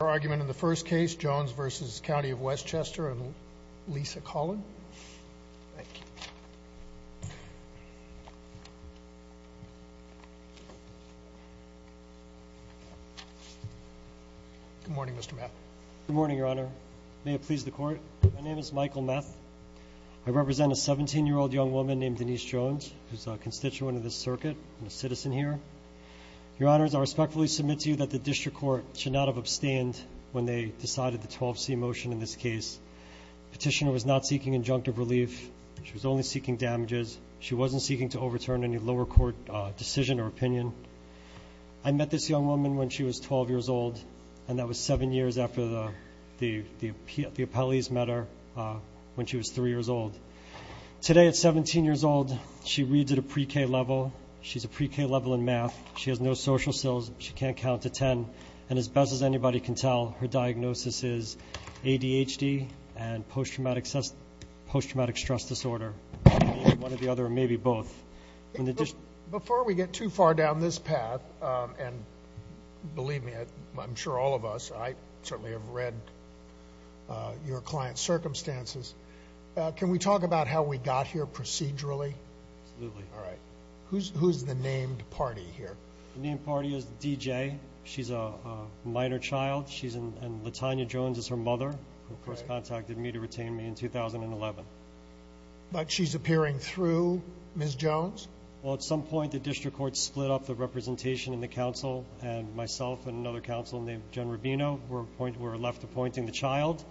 Your argument in the first case, Jones v. County of Westchester, and Lisa Collin. Good morning, Mr. Meth. Good morning, Your Honor. May it please the Court, my name is Michael Meth. I represent a 17-year-old young woman named Denise Jones, who is a constituent of this circuit and a citizen here. Your Honors, I respectfully submit to you that the District Court should not have abstained when they decided the 12C motion in this case. Petitioner was not seeking injunctive relief. She was only seeking damages. She wasn't seeking to overturn any lower court decision or opinion. I met this young woman when she was 12 years old, and that was seven years after the appellees met her when she was three years old. Today, at 17 years old, she reads at a pre-K level. She's a pre-K level in math. She has no social skills. She can't count to 10. And as best as anybody can tell, her diagnosis is ADHD and post-traumatic stress disorder. One or the other, or maybe both. Before we get too far down this path, and believe me, I'm sure all of us, I certainly have read your client's circumstances, can we talk about how we got here procedurally? Absolutely. All right. Who's the named party here? The named party is D.J. She's a minor child, and Latonya Jones is her mother, who first contacted me to retain me in 2011. But she's appearing through Ms. Jones? Well, at some point the District Court split up the representation in the council, and myself and another counsel named Jen Rubino were left appointing the child.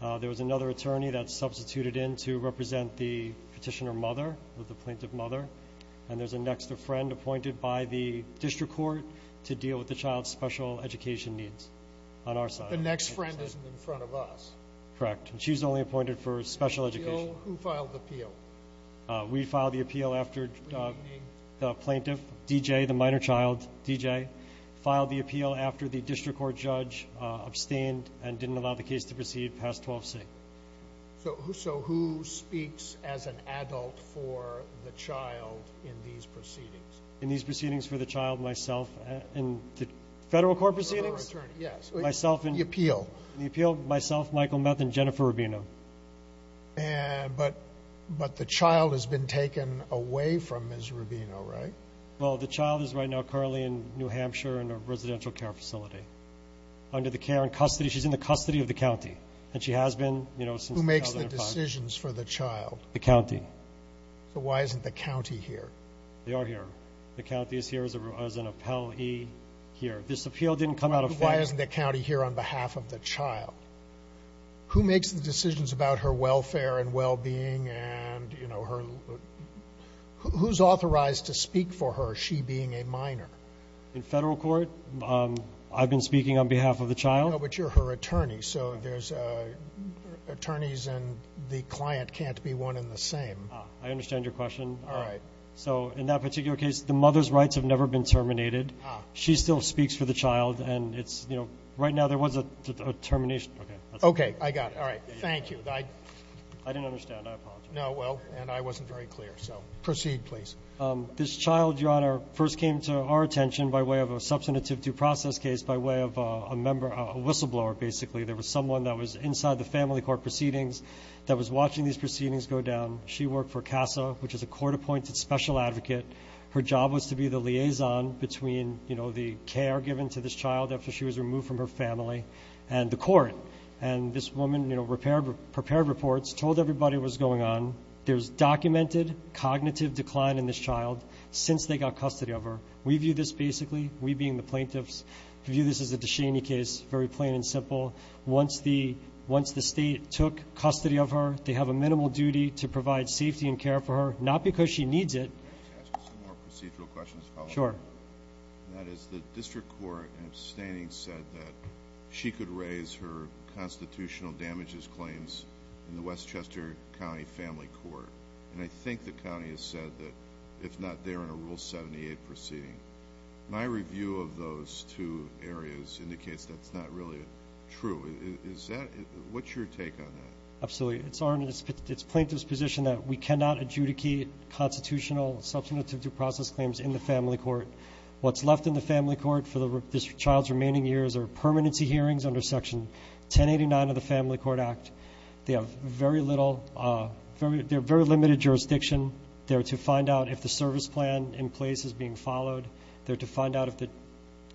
There was another attorney that substituted in to represent the petitioner mother, the plaintiff mother, and there's a next of friend appointed by the District Court to deal with the child's special education needs on our side. The next friend isn't in front of us? Correct. She's only appointed for special education. Who filed the appeal? We filed the appeal after the plaintiff, D.J., the minor child, D.J., filed the appeal after the District Court judge abstained and didn't allow the case to proceed past 12C. So who speaks as an adult for the child in these proceedings? In these proceedings for the child, myself. Federal court proceedings? Yes. The appeal? The appeal, myself, Michael Meth, and Jennifer Rubino. But the child has been taken away from Ms. Rubino, right? Well, the child is right now currently in New Hampshire in a residential care facility. Under the care and custody, she's in the custody of the county, and she has been, you know, since 2005. Who makes the decisions for the child? The county. So why isn't the county here? They are here. The county is here as an appellee here. This appeal didn't come out of federal court. Why isn't the county here on behalf of the child? Who makes the decisions about her welfare and well-being and, you know, who's authorized to speak for her, she being a minor? In federal court, I've been speaking on behalf of the child. But you're her attorney, so there's attorneys and the client can't be one and the same. I understand your question. All right. So in that particular case, the mother's rights have never been terminated. She still speaks for the child. And it's, you know, right now there was a termination. Okay, I got it. All right. Thank you. I didn't understand. I apologize. No, well, and I wasn't very clear. So proceed, please. This child, Your Honor, first came to our attention by way of a substantive due process case by way of a whistleblower, basically. There was someone that was inside the family court proceedings that was watching these proceedings go down. She worked for CASA, which is a court-appointed special advocate. Her job was to be the liaison between, you know, the care given to this child after she was removed from her family and the court. And this woman, you know, prepared reports, told everybody what was going on. There's documented cognitive decline in this child since they got custody of her. We view this basically, we being the plaintiffs, view this as a Duchenne case, very plain and simple. Once the state took custody of her, they have a minimal duty to provide safety and care for her, not because she needs it. Can I ask you some more procedural questions? Sure. That is, the district court abstaining said that she could raise her constitutional damages claims in the Westchester County Family Court. And I think the county has said that if not, they're in a Rule 78 proceeding. My review of those two areas indicates that's not really true. What's your take on that? Absolutely. It's plaintiff's position that we cannot adjudicate constitutional substantive due process claims in the family court. What's left in the family court for this child's remaining years are permanency hearings under Section 1089 of the Family Court Act. They have very little, they're very limited jurisdiction. They're to find out if the service plan in place is being followed. They're to find out if the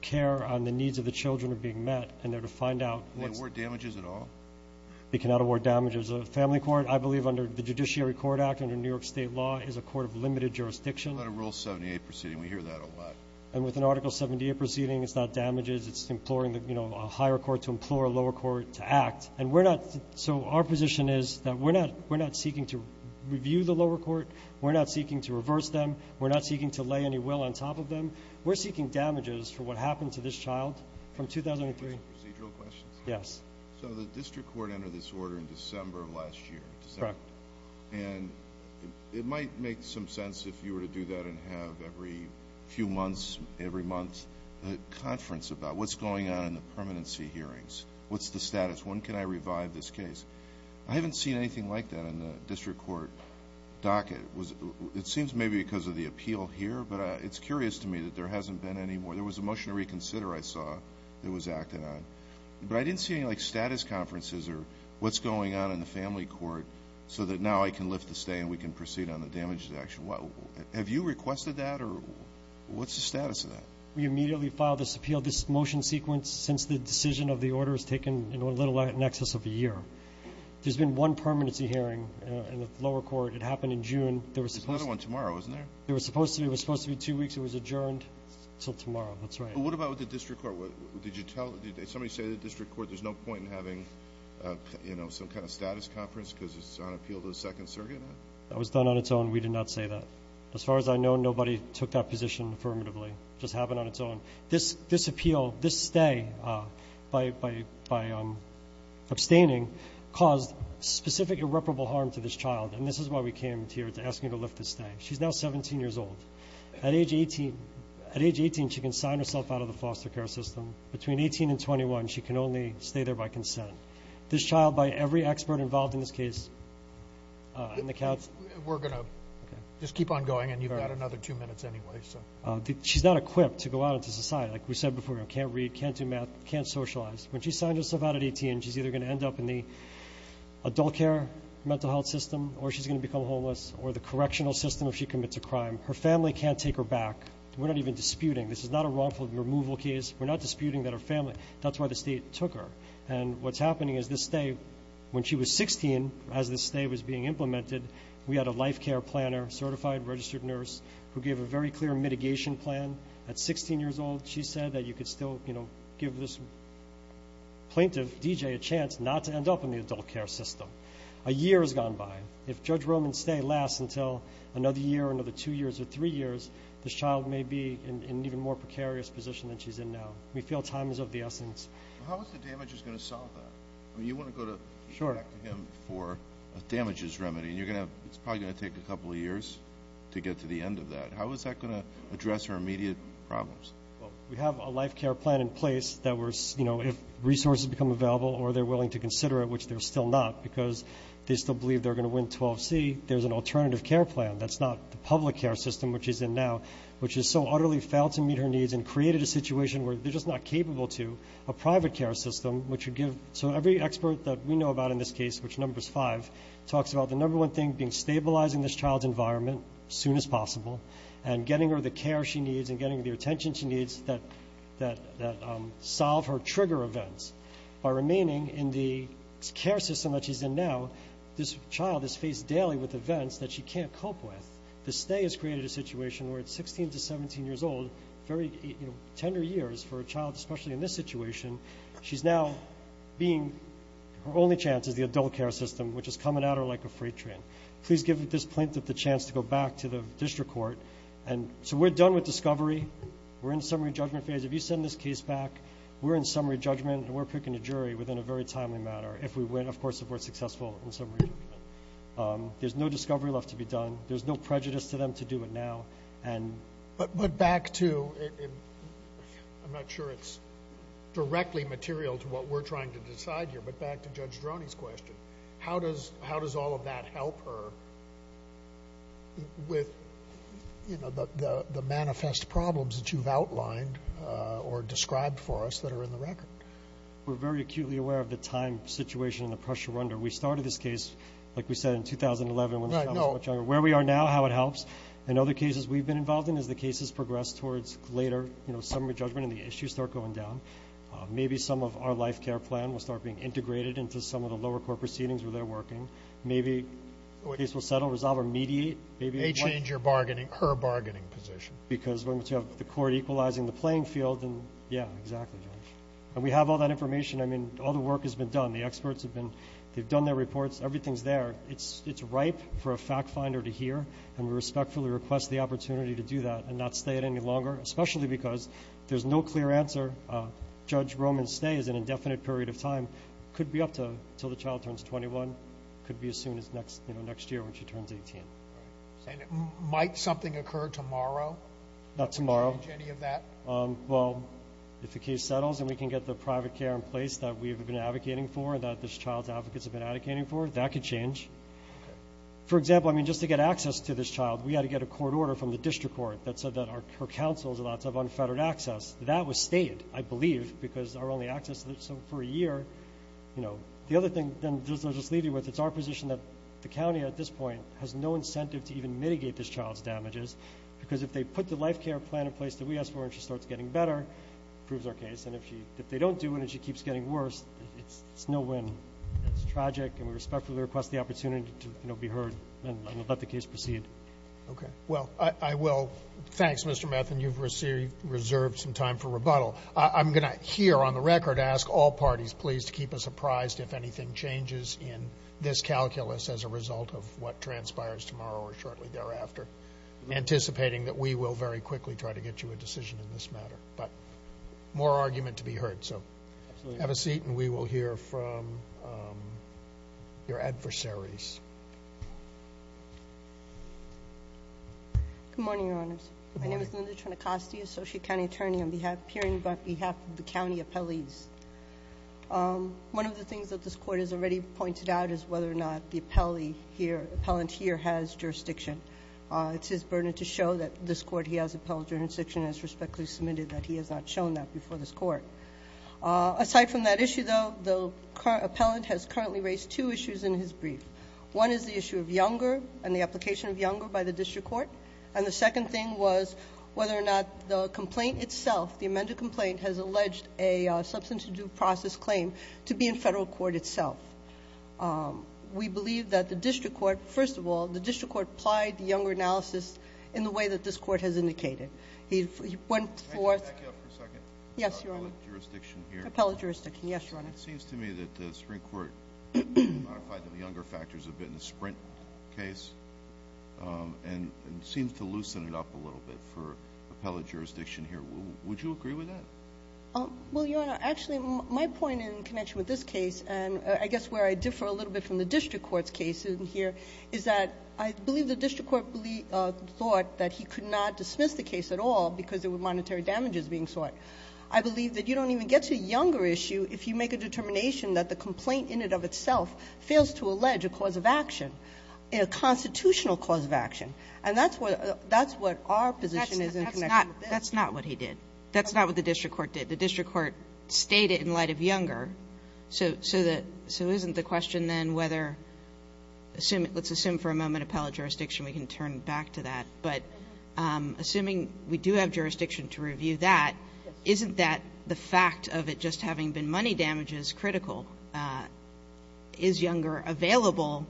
care on the needs of the children are being met. And they're to find out what's- Can they award damages at all? They cannot award damages at the family court. I believe under the Judiciary Court Act, under New York State law, is a court of limited jurisdiction. But a Rule 78 proceeding, we hear that a lot. And with an Article 78 proceeding, it's not damages. It's imploring, you know, a higher court to implore a lower court to act. And we're not, so our position is that we're not seeking to review the lower court. We're not seeking to reverse them. We're not seeking to lay any will on top of them. We're seeking damages for what happened to this child from 2003. Procedural questions? Yes. So the district court entered this order in December of last year. Correct. And it might make some sense if you were to do that and have every few months, every month, a conference about what's going on in the permanency hearings. What's the status? When can I revive this case? I haven't seen anything like that in the district court docket. It seems maybe because of the appeal here, but it's curious to me that there hasn't been any more. There was a motion to reconsider, I saw, that was acted on. But I didn't see any, like, status conferences or what's going on in the family court so that now I can lift the stay and we can proceed on the damages action. Have you requested that or what's the status of that? We immediately filed this appeal. This motion sequence, since the decision of the order, has taken, you know, a little over an excess of a year. There's been one permanency hearing in the lower court. It happened in June. There was supposed to be. There's another one tomorrow, isn't there? There was supposed to be. It was supposed to be two weeks. It was adjourned until tomorrow. That's right. What about with the district court? Did somebody say to the district court there's no point in having, you know, some kind of status conference because it's on appeal to the second surrogate now? That was done on its own. We did not say that. As far as I know, nobody took that position affirmatively. It just happened on its own. This appeal, this stay, by abstaining, caused specific irreparable harm to this child, and this is why we came here to ask you to lift the stay. She's now 17 years old. At age 18, she can sign herself out of the foster care system. Between 18 and 21, she can only stay there by consent. This child, by every expert involved in this case, and the couch. We're going to just keep on going, and you've got another two minutes anyway. She's not equipped to go out into society. Like we said before, can't read, can't do math, can't socialize. When she signs herself out at 18, she's either going to end up in the adult care mental health system or she's going to become homeless or the correctional system if she commits a crime. Her family can't take her back. We're not even disputing. This is not a wrongful removal case. We're not disputing that her family, that's why the state took her. And what's happening is this stay, when she was 16, as this stay was being implemented, we had a life care planner, certified registered nurse, who gave a very clear mitigation plan at 16 years old. She said that you could still give this plaintiff, DJ, a chance not to end up in the adult care system. A year has gone by. If Judge Roman's stay lasts until another year or another two years or three years, this child may be in an even more precarious position than she's in now. We feel time is of the essence. How is the damages going to solve that? You want to go back to him for a damages remedy, and it's probably going to take a couple of years to get to the end of that. How is that going to address her immediate problems? We have a life care plan in place that if resources become available or they're willing to consider it, which they're still not because they still believe they're going to win 12C, there's an alternative care plan. That's not the public care system which she's in now, which has so utterly failed to meet her needs and created a situation where they're just not capable to. A private care system which would give so every expert that we know about in this case, which number's five, talks about the number one thing being stabilizing this child's environment as soon as possible and getting her the care she needs and getting the attention she needs that solve her trigger events. By remaining in the care system that she's in now, this child is faced daily with events that she can't cope with. The stay has created a situation where at 16 to 17 years old, very tender years for a child, especially in this situation, she's now being, her only chance is the adult care system, which is coming at her like a freight train. Please give this plaintiff the chance to go back to the district court. So we're done with discovery. We're in summary judgment phase. If you send this case back, we're in summary judgment, and we're picking a jury within a very timely manner. If we win, of course, if we're successful in summary judgment. There's no discovery left to be done. There's no prejudice to them to do it now. But back to, I'm not sure it's directly material to what we're trying to decide here, but back to Judge Droney's question, how does all of that help her with the manifest problems that you've outlined or described for us that are in the record? We're very acutely aware of the time situation and the pressure we're under. We started this case, like we said, in 2011 when the child was much younger. Where we are now, how it helps. In other cases we've been involved in, as the case has progressed towards later, you know, summary judgment and the issues start going down, maybe some of our life care plan will start being integrated into some of the lower court proceedings where they're working. Maybe the case will settle, resolve, or mediate. They change her bargaining position. Because once you have the court equalizing the playing field, then, yeah, exactly. And we have all that information. I mean, all the work has been done. The experts have been, they've done their reports. Everything's there. It's ripe for a fact finder to hear, and we respectfully request the opportunity to do that and not stay it any longer, especially because there's no clear answer. Judge Roman's stay is an indefinite period of time. It could be up until the child turns 21. It could be as soon as next year when she turns 18. And might something occur tomorrow? Not tomorrow. To change any of that? Well, if the case settles and we can get the private care in place that we've been advocating for and that this child's advocates have been advocating for, that could change. For example, I mean, just to get access to this child, we had to get a court order from the district court that said that her counsels are allowed to have unfettered access. That was stayed, I believe, because our only access for a year, you know. The other thing, then, just to leave you with, it's our position that the county at this point has no incentive to even mitigate this child's damages because if they put the life care plan in place that we asked for and she starts getting better, it proves our case. And if they don't do it and she keeps getting worse, it's no win. It's tragic, and we respectfully request the opportunity to, you know, be heard and let the case proceed. Okay. Well, I will. Thanks, Mr. Metheny. You've reserved some time for rebuttal. I'm going to, here, on the record, ask all parties, please, to keep us apprised if anything changes in this calculus as a result of what transpires tomorrow or shortly thereafter, anticipating that we will very quickly try to get you a decision in this matter. But more argument to be heard. So have a seat, and we will hear from your adversaries. Good morning, Your Honors. Good morning. My name is Linda Trenacoste, associate county attorney, appearing on behalf of the county appellees. One of the things that this court has already pointed out is whether or not the appellant here has jurisdiction. It's his burden to show that this court he has appellate jurisdiction and has respectfully submitted that he has not shown that before this court. Aside from that issue, though, the appellant has currently raised two issues in his brief. One is the issue of Younger and the application of Younger by the district court. And the second thing was whether or not the complaint itself, the amended complaint, has alleged a substance-induced process claim to be in federal court itself. We believe that the district court, first of all, the district court applied the Younger analysis in the way that this court has indicated. He went forth. Can I back you up for a second? Yes, Your Honor. Appellate jurisdiction here. Appellate jurisdiction. Yes, Your Honor. It seems to me that the Supreme Court modified the Younger factors a bit in the Sprint case, and it seems to loosen it up a little bit for appellate jurisdiction here. Would you agree with that? Well, Your Honor, actually, my point in connection with this case, and I guess where I differ a little bit from the district court's case in here, is that I believe the district court thought that he could not dismiss the case at all because there were monetary damages being sought. I believe that you don't even get to Younger issue if you make a determination that the complaint in and of itself fails to allege a cause of action, a constitutional cause of action. And that's what our position is in connection with this. That's not what he did. That's not what the district court did. The district court stayed it in light of Younger. So isn't the question then whether, let's assume for a moment appellate jurisdiction, we can turn back to that. But assuming we do have jurisdiction to review that, isn't that the fact of it just having been money damages critical? Is Younger available,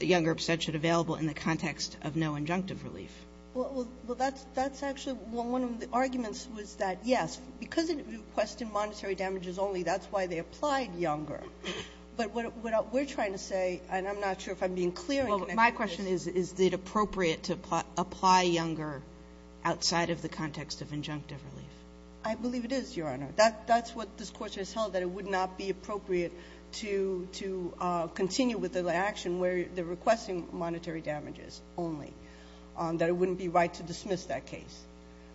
Younger abstention available in the context of no injunctive relief? Well, that's actually one of the arguments was that, yes, because it requested monetary damages only, that's why they applied Younger. But what we're trying to say, and I'm not sure if I'm being clear in connection with this. Well, my question is, is it appropriate to apply Younger outside of the context of injunctive relief? I believe it is, Your Honor. That's what this Court has held, that it would not be appropriate to continue with the action where they're requesting monetary damages only, that it wouldn't be right to dismiss that case.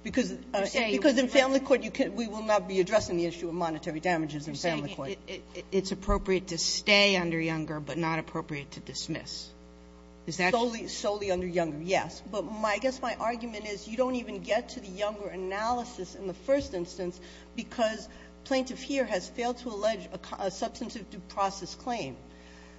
Because in family court, we will not be addressing the issue of monetary damages in family court. You're saying it's appropriate to stay under Younger but not appropriate to dismiss. Is that? Solely under Younger, yes. But I guess my argument is you don't even get to the Younger analysis in the first instance, because Plaintiff here has failed to allege a substantive due process claim.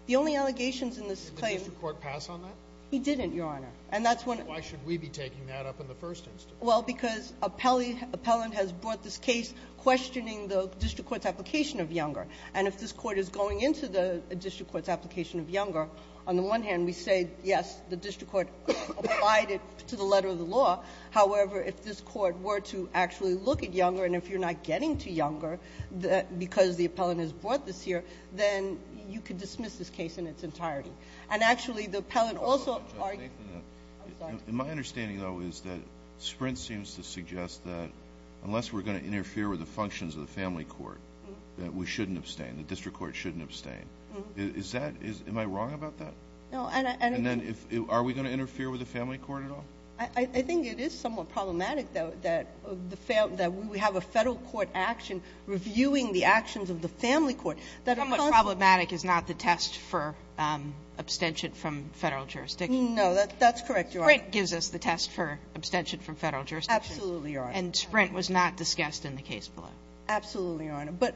The only allegations in this claim -- Did the district court pass on that? It didn't, Your Honor. And that's when the ---- Why should we be taking that up in the first instance? Well, because appellant has brought this case questioning the district court's application of Younger. And if this Court is going into the district court's application of Younger, on the one hand, we say, yes, the district court applied it to the letter of the law. However, if this court were to actually look at Younger, and if you're not getting to Younger, because the appellant has brought this here, then you could dismiss this case in its entirety. And actually, the appellant also argued ---- I'm sorry. My understanding, though, is that Sprint seems to suggest that unless we're going to interfere with the functions of the family court, that we shouldn't abstain, the district court shouldn't abstain. Is that ---- Am I wrong about that? No. And then if ---- Are we going to interfere with the family court at all? I think it is somewhat problematic, though, that the ---- that we have a Federal court action reviewing the actions of the family court. How much problematic is not the test for abstention from Federal jurisdiction? No, that's correct, Your Honor. Sprint gives us the test for abstention from Federal jurisdiction. Absolutely, Your Honor. And Sprint was not discussed in the case below. Absolutely, Your Honor. But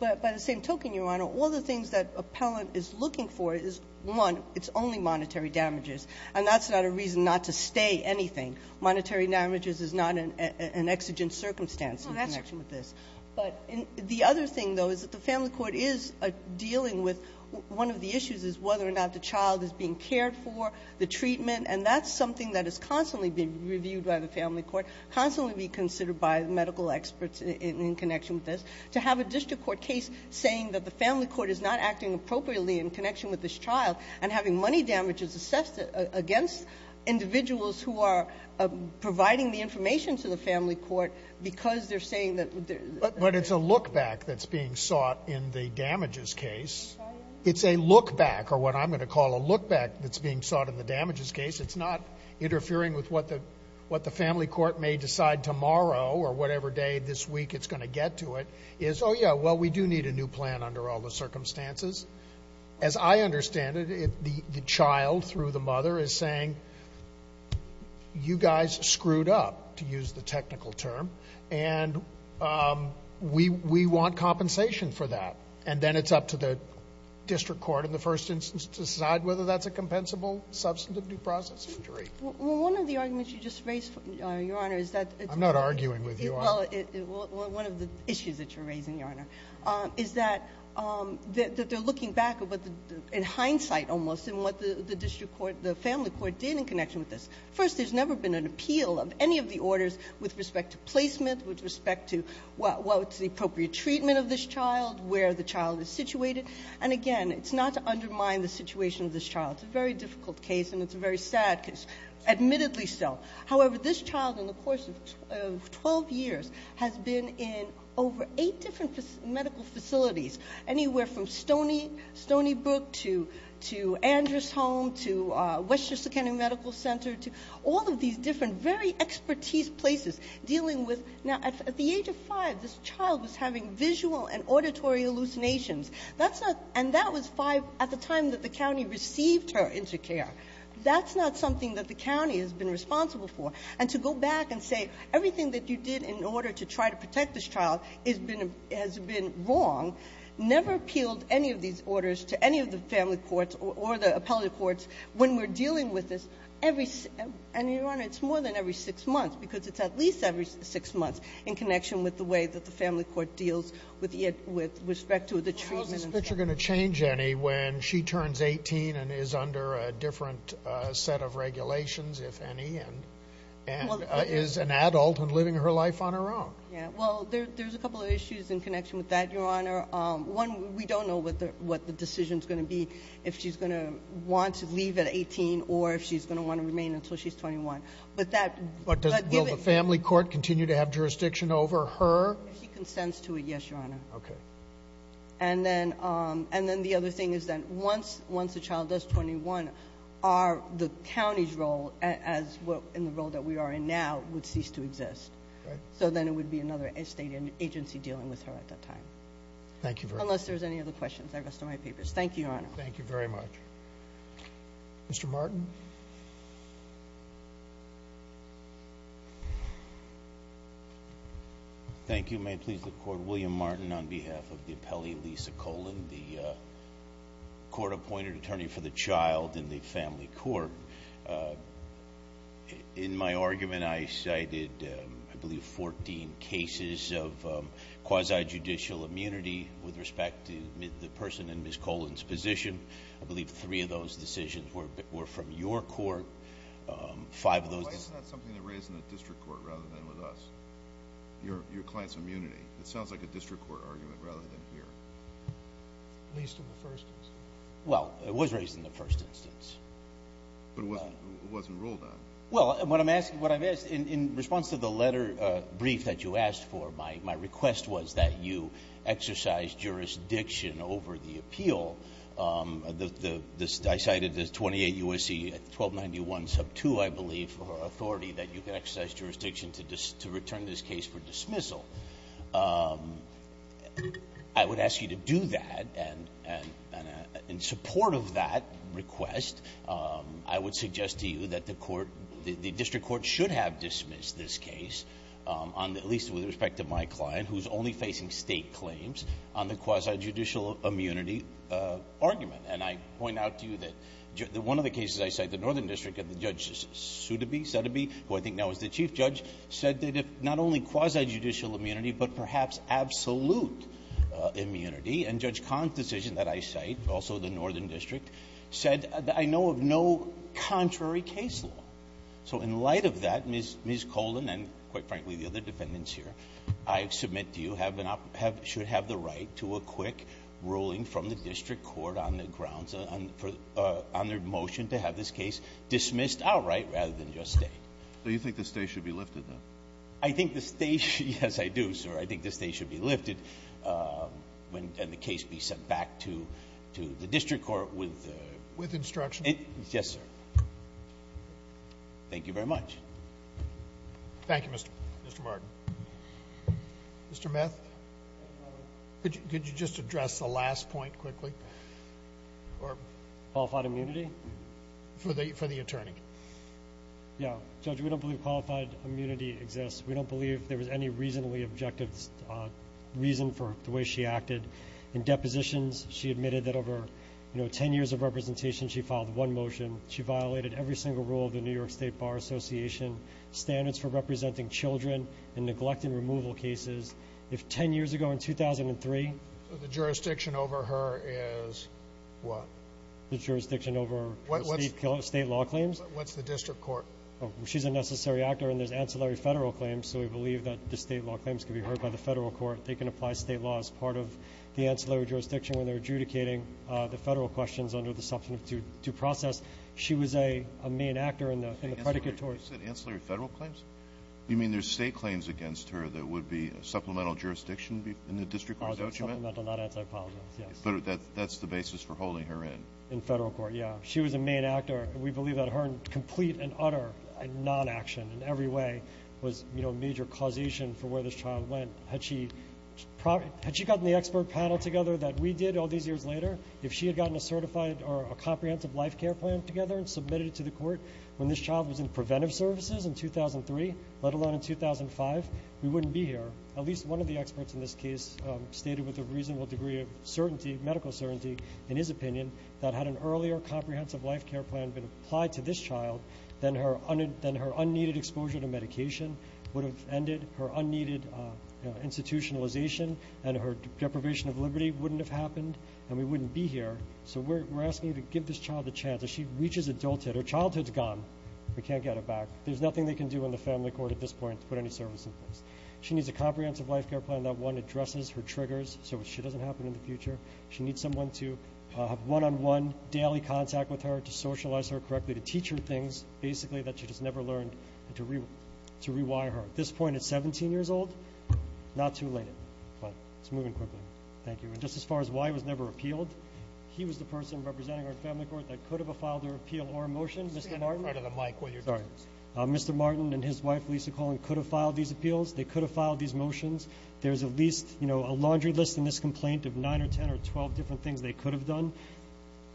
by the same token, Your Honor, all the things that appellant is looking for is, one, it's only monetary damages. And that's not a reason not to stay anything. Monetary damages is not an exigent circumstance in connection with this. No, that's correct. But the other thing, though, is that the family court is dealing with one of the issues is whether or not the child is being cared for, the treatment, and that's something that is constantly being reviewed by the family court, constantly being considered by medical experts in connection with this. To have a district court case saying that the family court is not acting appropriately in connection with this child and having money damages assessed against individuals who are providing the information to the family court because they're saying that there's But it's a look-back that's being sought in the damages case. It's a look-back, or what I'm going to call a look-back that's being sought in the damages case. It's not interfering with what the family court may decide tomorrow or whatever day this week it's going to get to it. It's oh, yeah, well, we do need a new plan under all the circumstances. As I understand it, the child through the mother is saying, you guys screwed up, to use the technical term, and we want compensation for that. And then it's up to the district court in the first instance to decide whether that's a compensable substantive due process injury. Well, one of the arguments you just raised, Your Honor, is that it's one of the issues in hindsight almost in what the family court did in connection with this. First, there's never been an appeal of any of the orders with respect to placement, with respect to what's the appropriate treatment of this child, where the child is situated. And, again, it's not to undermine the situation of this child. It's a very difficult case, and it's a very sad case, admittedly so. However, this child in the course of 12 years has been in over eight different medical facilities, anywhere from Stony Brook to Andrews Home to Westchester County Medical Center to all of these different very expertise places dealing with. Now, at the age of five, this child was having visual and auditory hallucinations. And that was at the time that the county received her into care. That's not something that the county has been responsible for. And to go back and say everything that you did in order to try to protect this child has been wrong, never appealed any of these orders to any of the family courts or the appellate courts when we're dealing with this. And, Your Honor, it's more than every six months because it's at least every six months in connection with the way that the family court deals with respect to the treatment. Is this picture going to change any when she turns 18 and is under a different set of regulations, if any, and is an adult and living her life on her own? Well, there's a couple of issues in connection with that, Your Honor. One, we don't know what the decision is going to be, if she's going to want to leave at 18 or if she's going to want to remain until she's 21. Will the family court continue to have jurisdiction over her? If she consents to it, yes, Your Honor. Okay. And then the other thing is that once the child does 21, the county's role in the role that we are in now would cease to exist. Right. So then it would be another state agency dealing with her at that time. Thank you very much. Unless there's any other questions, I rest on my papers. Thank you, Your Honor. Thank you very much. Mr. Martin? Thank you. May it please the Court. William Martin on behalf of the appellee, Lisa Colan, the court-appointed attorney for the child in the family court. In my argument, I cited, I believe, 14 cases of quasi-judicial immunity with respect to the person in Ms. Colan's position. I believe three of those decisions were from you. Why is that something that's raised in the district court rather than with us, your client's immunity? It sounds like a district court argument rather than here. At least in the first instance. Well, it was raised in the first instance. But it wasn't ruled on. Well, what I've asked, in response to the letter brief that you asked for, my request was that you exercise jurisdiction over the appeal. I cited the 28 U.S.C. 1291 sub 2, I believe, for authority that you can exercise jurisdiction to return this case for dismissal. I would ask you to do that. And in support of that request, I would suggest to you that the district court should have dismissed this case, at least with respect to my client, who's only facing State claims on the quasi-judicial immunity argument. And I point out to you that one of the cases I cite, the Northern District and Judge Sudeby, who I think now is the chief judge, said that if not only quasi-judicial immunity, but perhaps absolute immunity, and Judge Kahn's decision that I cite, also the Northern District, said that I know of no contrary case law. So in light of that, Ms. Colan and, quite frankly, the other defendants here, I submit to you, should have the right to a quick ruling from the district court on the grounds, on their motion to have this case dismissed outright rather than just stay. So you think the stay should be lifted, then? I think the stay, yes, I do, sir. I think the stay should be lifted and the case be sent back to the district court with the ---- With instruction? Yes, sir. Thank you very much. Thank you, Mr. Martin. Mr. Meth? Could you just address the last point quickly? Qualified immunity? For the attorney. Yeah. Judge, we don't believe qualified immunity exists. We don't believe there was any reasonably objective reason for the way she acted. In depositions, she admitted that over 10 years of representation, she filed one motion. She violated every single rule of the New York State Bar Association, standards for representing children in neglect and removal cases. If 10 years ago in 2003 ---- The jurisdiction over her is what? The jurisdiction over state law claims? What's the district court? She's a necessary actor and there's ancillary federal claims, so we believe that the state law claims can be heard by the federal court. They can apply state law as part of the ancillary jurisdiction when they're adjudicating the federal questions under the substantive due process. She was a main actor in the predicate towards ---- Did you just say ancillary federal claims? You mean there's state claims against her that would be supplemental jurisdiction in the district court, is that what you meant? Supplemental, not anti-policies, yes. But that's the basis for holding her in. In federal court, yeah. She was a main actor. We believe that her complete and utter non-action in every way was, you know, a major causation for where this child went. Had she gotten the expert panel together that we did all these years later, if she had gotten a certified or a comprehensive life care plan together and submitted it to the court when this child was in preventive services in 2003, let alone in 2005, we wouldn't be here. At least one of the experts in this case stated with a reasonable degree of medical certainty, in his opinion, that had an earlier comprehensive life care plan been applied to this child, then her unneeded exposure to medication would have ended, her unneeded institutionalization and her deprivation of liberty wouldn't have happened and we wouldn't be here. So we're asking you to give this child a chance. As she reaches adulthood, her childhood's gone. We can't get her back. There's nothing they can do in the family court at this point to put any service in place. She needs a comprehensive life care plan that, one, addresses her triggers so she doesn't happen in the future. She needs someone to have one-on-one daily contact with her, to socialize her correctly, to teach her things, basically, that she just never learned and to rewire her. At this point, at 17 years old, not too late, but it's moving quickly. Thank you. And just as far as why he was never appealed, he was the person representing our family court that could have filed her appeal or a motion, Mr. Martin. Stand in front of the mic while you're doing this. Sorry. Mr. Martin and his wife, Lisa Collin, could have filed these appeals. They could have filed these motions. There's at least a laundry list in this complaint of 9 or 10 or 12 different things they could have done,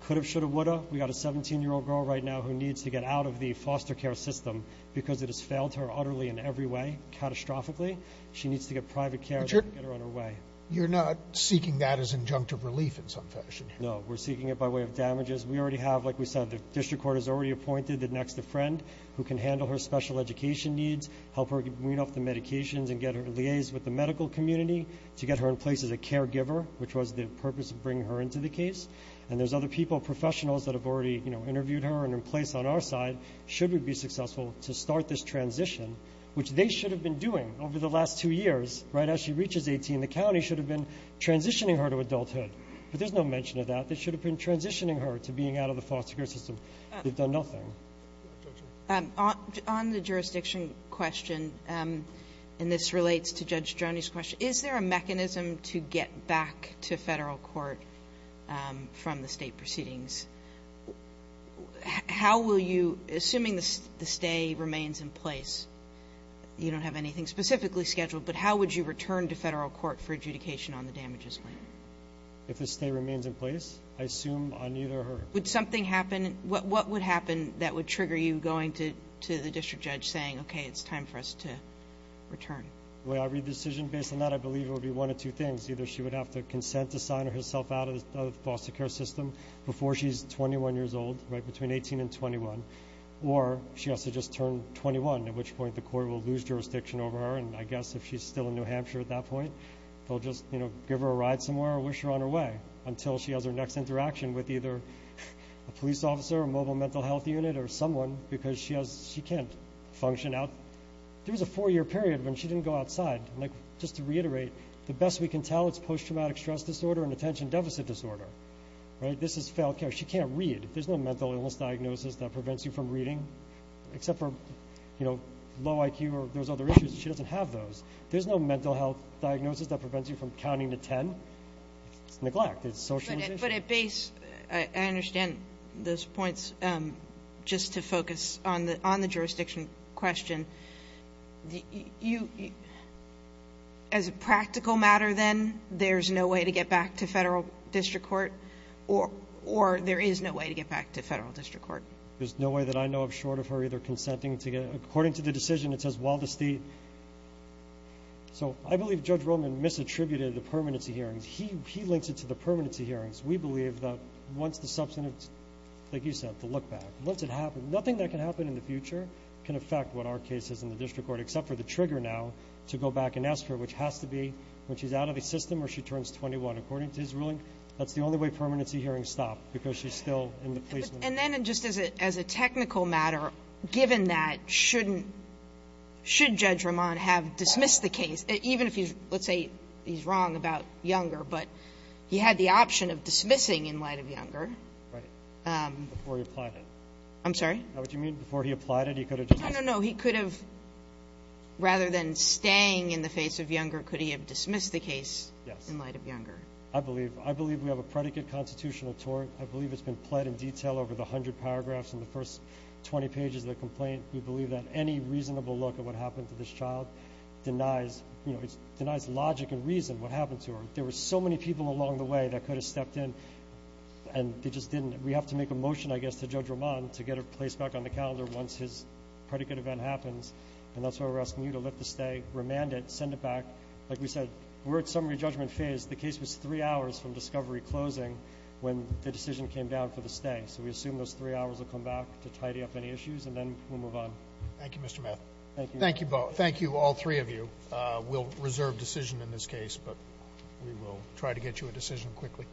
could have, should have, would have. We've got a 17-year-old girl right now who needs to get out of the foster care system because it has failed her utterly in every way, catastrophically. She needs to get private care to get her on her way. You're not seeking that as injunctive relief in some fashion. No, we're seeking it by way of damages. We already have, like we said, the district court has already appointed the next of friend who can handle her special education needs, help her wean off the medications and liaise with the medical community to get her in place as a caregiver, which was the purpose of bringing her into the case. And there's other people, professionals, that have already interviewed her and are in place on our side, should we be successful, to start this transition, which they should have been doing over the last two years right as she reaches 18. The county should have been transitioning her to adulthood. But there's no mention of that. They should have been transitioning her to being out of the foster care system. They've done nothing. On the jurisdiction question, and this relates to Judge Joni's question, is there a mechanism to get back to Federal court from the State proceedings? How will you, assuming the stay remains in place, you don't have anything specifically scheduled, but how would you return to Federal court for adjudication on the damages claim? If the stay remains in place, I assume on either her. Would something happen? What would happen that would trigger you going to the district judge saying, okay, it's time for us to return? Well, I read the decision based on that. I believe it would be one of two things. Either she would have to consent to sign herself out of the foster care system before she's 21 years old, right, between 18 and 21. Or she has to just turn 21, at which point the court will lose jurisdiction over her. And I guess if she's still in New Hampshire at that point, they'll just give her a ride somewhere or wish her on her way until she has her next interaction with either a police officer or mobile mental health unit or someone because she can't function out. There was a four-year period when she didn't go outside. Just to reiterate, the best we can tell, it's post-traumatic stress disorder and attention deficit disorder, right? This is failed care. She can't read. There's no mental illness diagnosis that prevents you from reading, except for low IQ or those other issues. She doesn't have those. There's no mental health diagnosis that prevents you from counting to ten. It's neglect. It's socialization. But at base, I understand those points. Just to focus on the jurisdiction question, as a practical matter then, there's no way to get back to federal district court or there is no way to get back to federal district court? There's no way that I know of short of her either consenting to get it. According to the decision, it says while the state. So I believe Judge Roman misattributed the permanency hearings. He links it to the permanency hearings. We believe that once the substantive, like you said, the look back, once it happens, nothing that can happen in the future can affect what our case is in the district court, except for the trigger now to go back and ask her, which has to be when she's out of the system or she turns 21. According to his ruling, that's the only way permanency hearings stop because she's still in the placement. And then just as a technical matter, given that, shouldn't Judge Roman have dismissed the case, even if he's, let's say he's wrong about Younger, but he had the option of dismissing in light of Younger. Right. Before he applied it. I'm sorry? What do you mean before he applied it? He could have just. No, no, no. He could have, rather than staying in the face of Younger, could he have dismissed the case in light of Younger? Yes. I believe we have a predicate constitutional tort. I believe it's been pled in detail over the 100 paragraphs in the first 20 pages of the complaint. We believe that any reasonable look at what happened to this child denies, you know, it denies logic and reason what happened to her. There were so many people along the way that could have stepped in, and they just didn't. We have to make a motion, I guess, to Judge Roman to get her placed back on the calendar once his predicate event happens, and that's why we're asking you to let this stay, remand it, send it back. Like we said, we're at summary judgment phase. The case was three hours from discovery closing when the decision came down for the stay, so we assume those three hours will come back to tidy up any issues, and then we'll move on. Thank you, Mr. Math. Thank you. Thank you all three of you. We'll reserve decision in this case, but we will try to get you a decision quickly.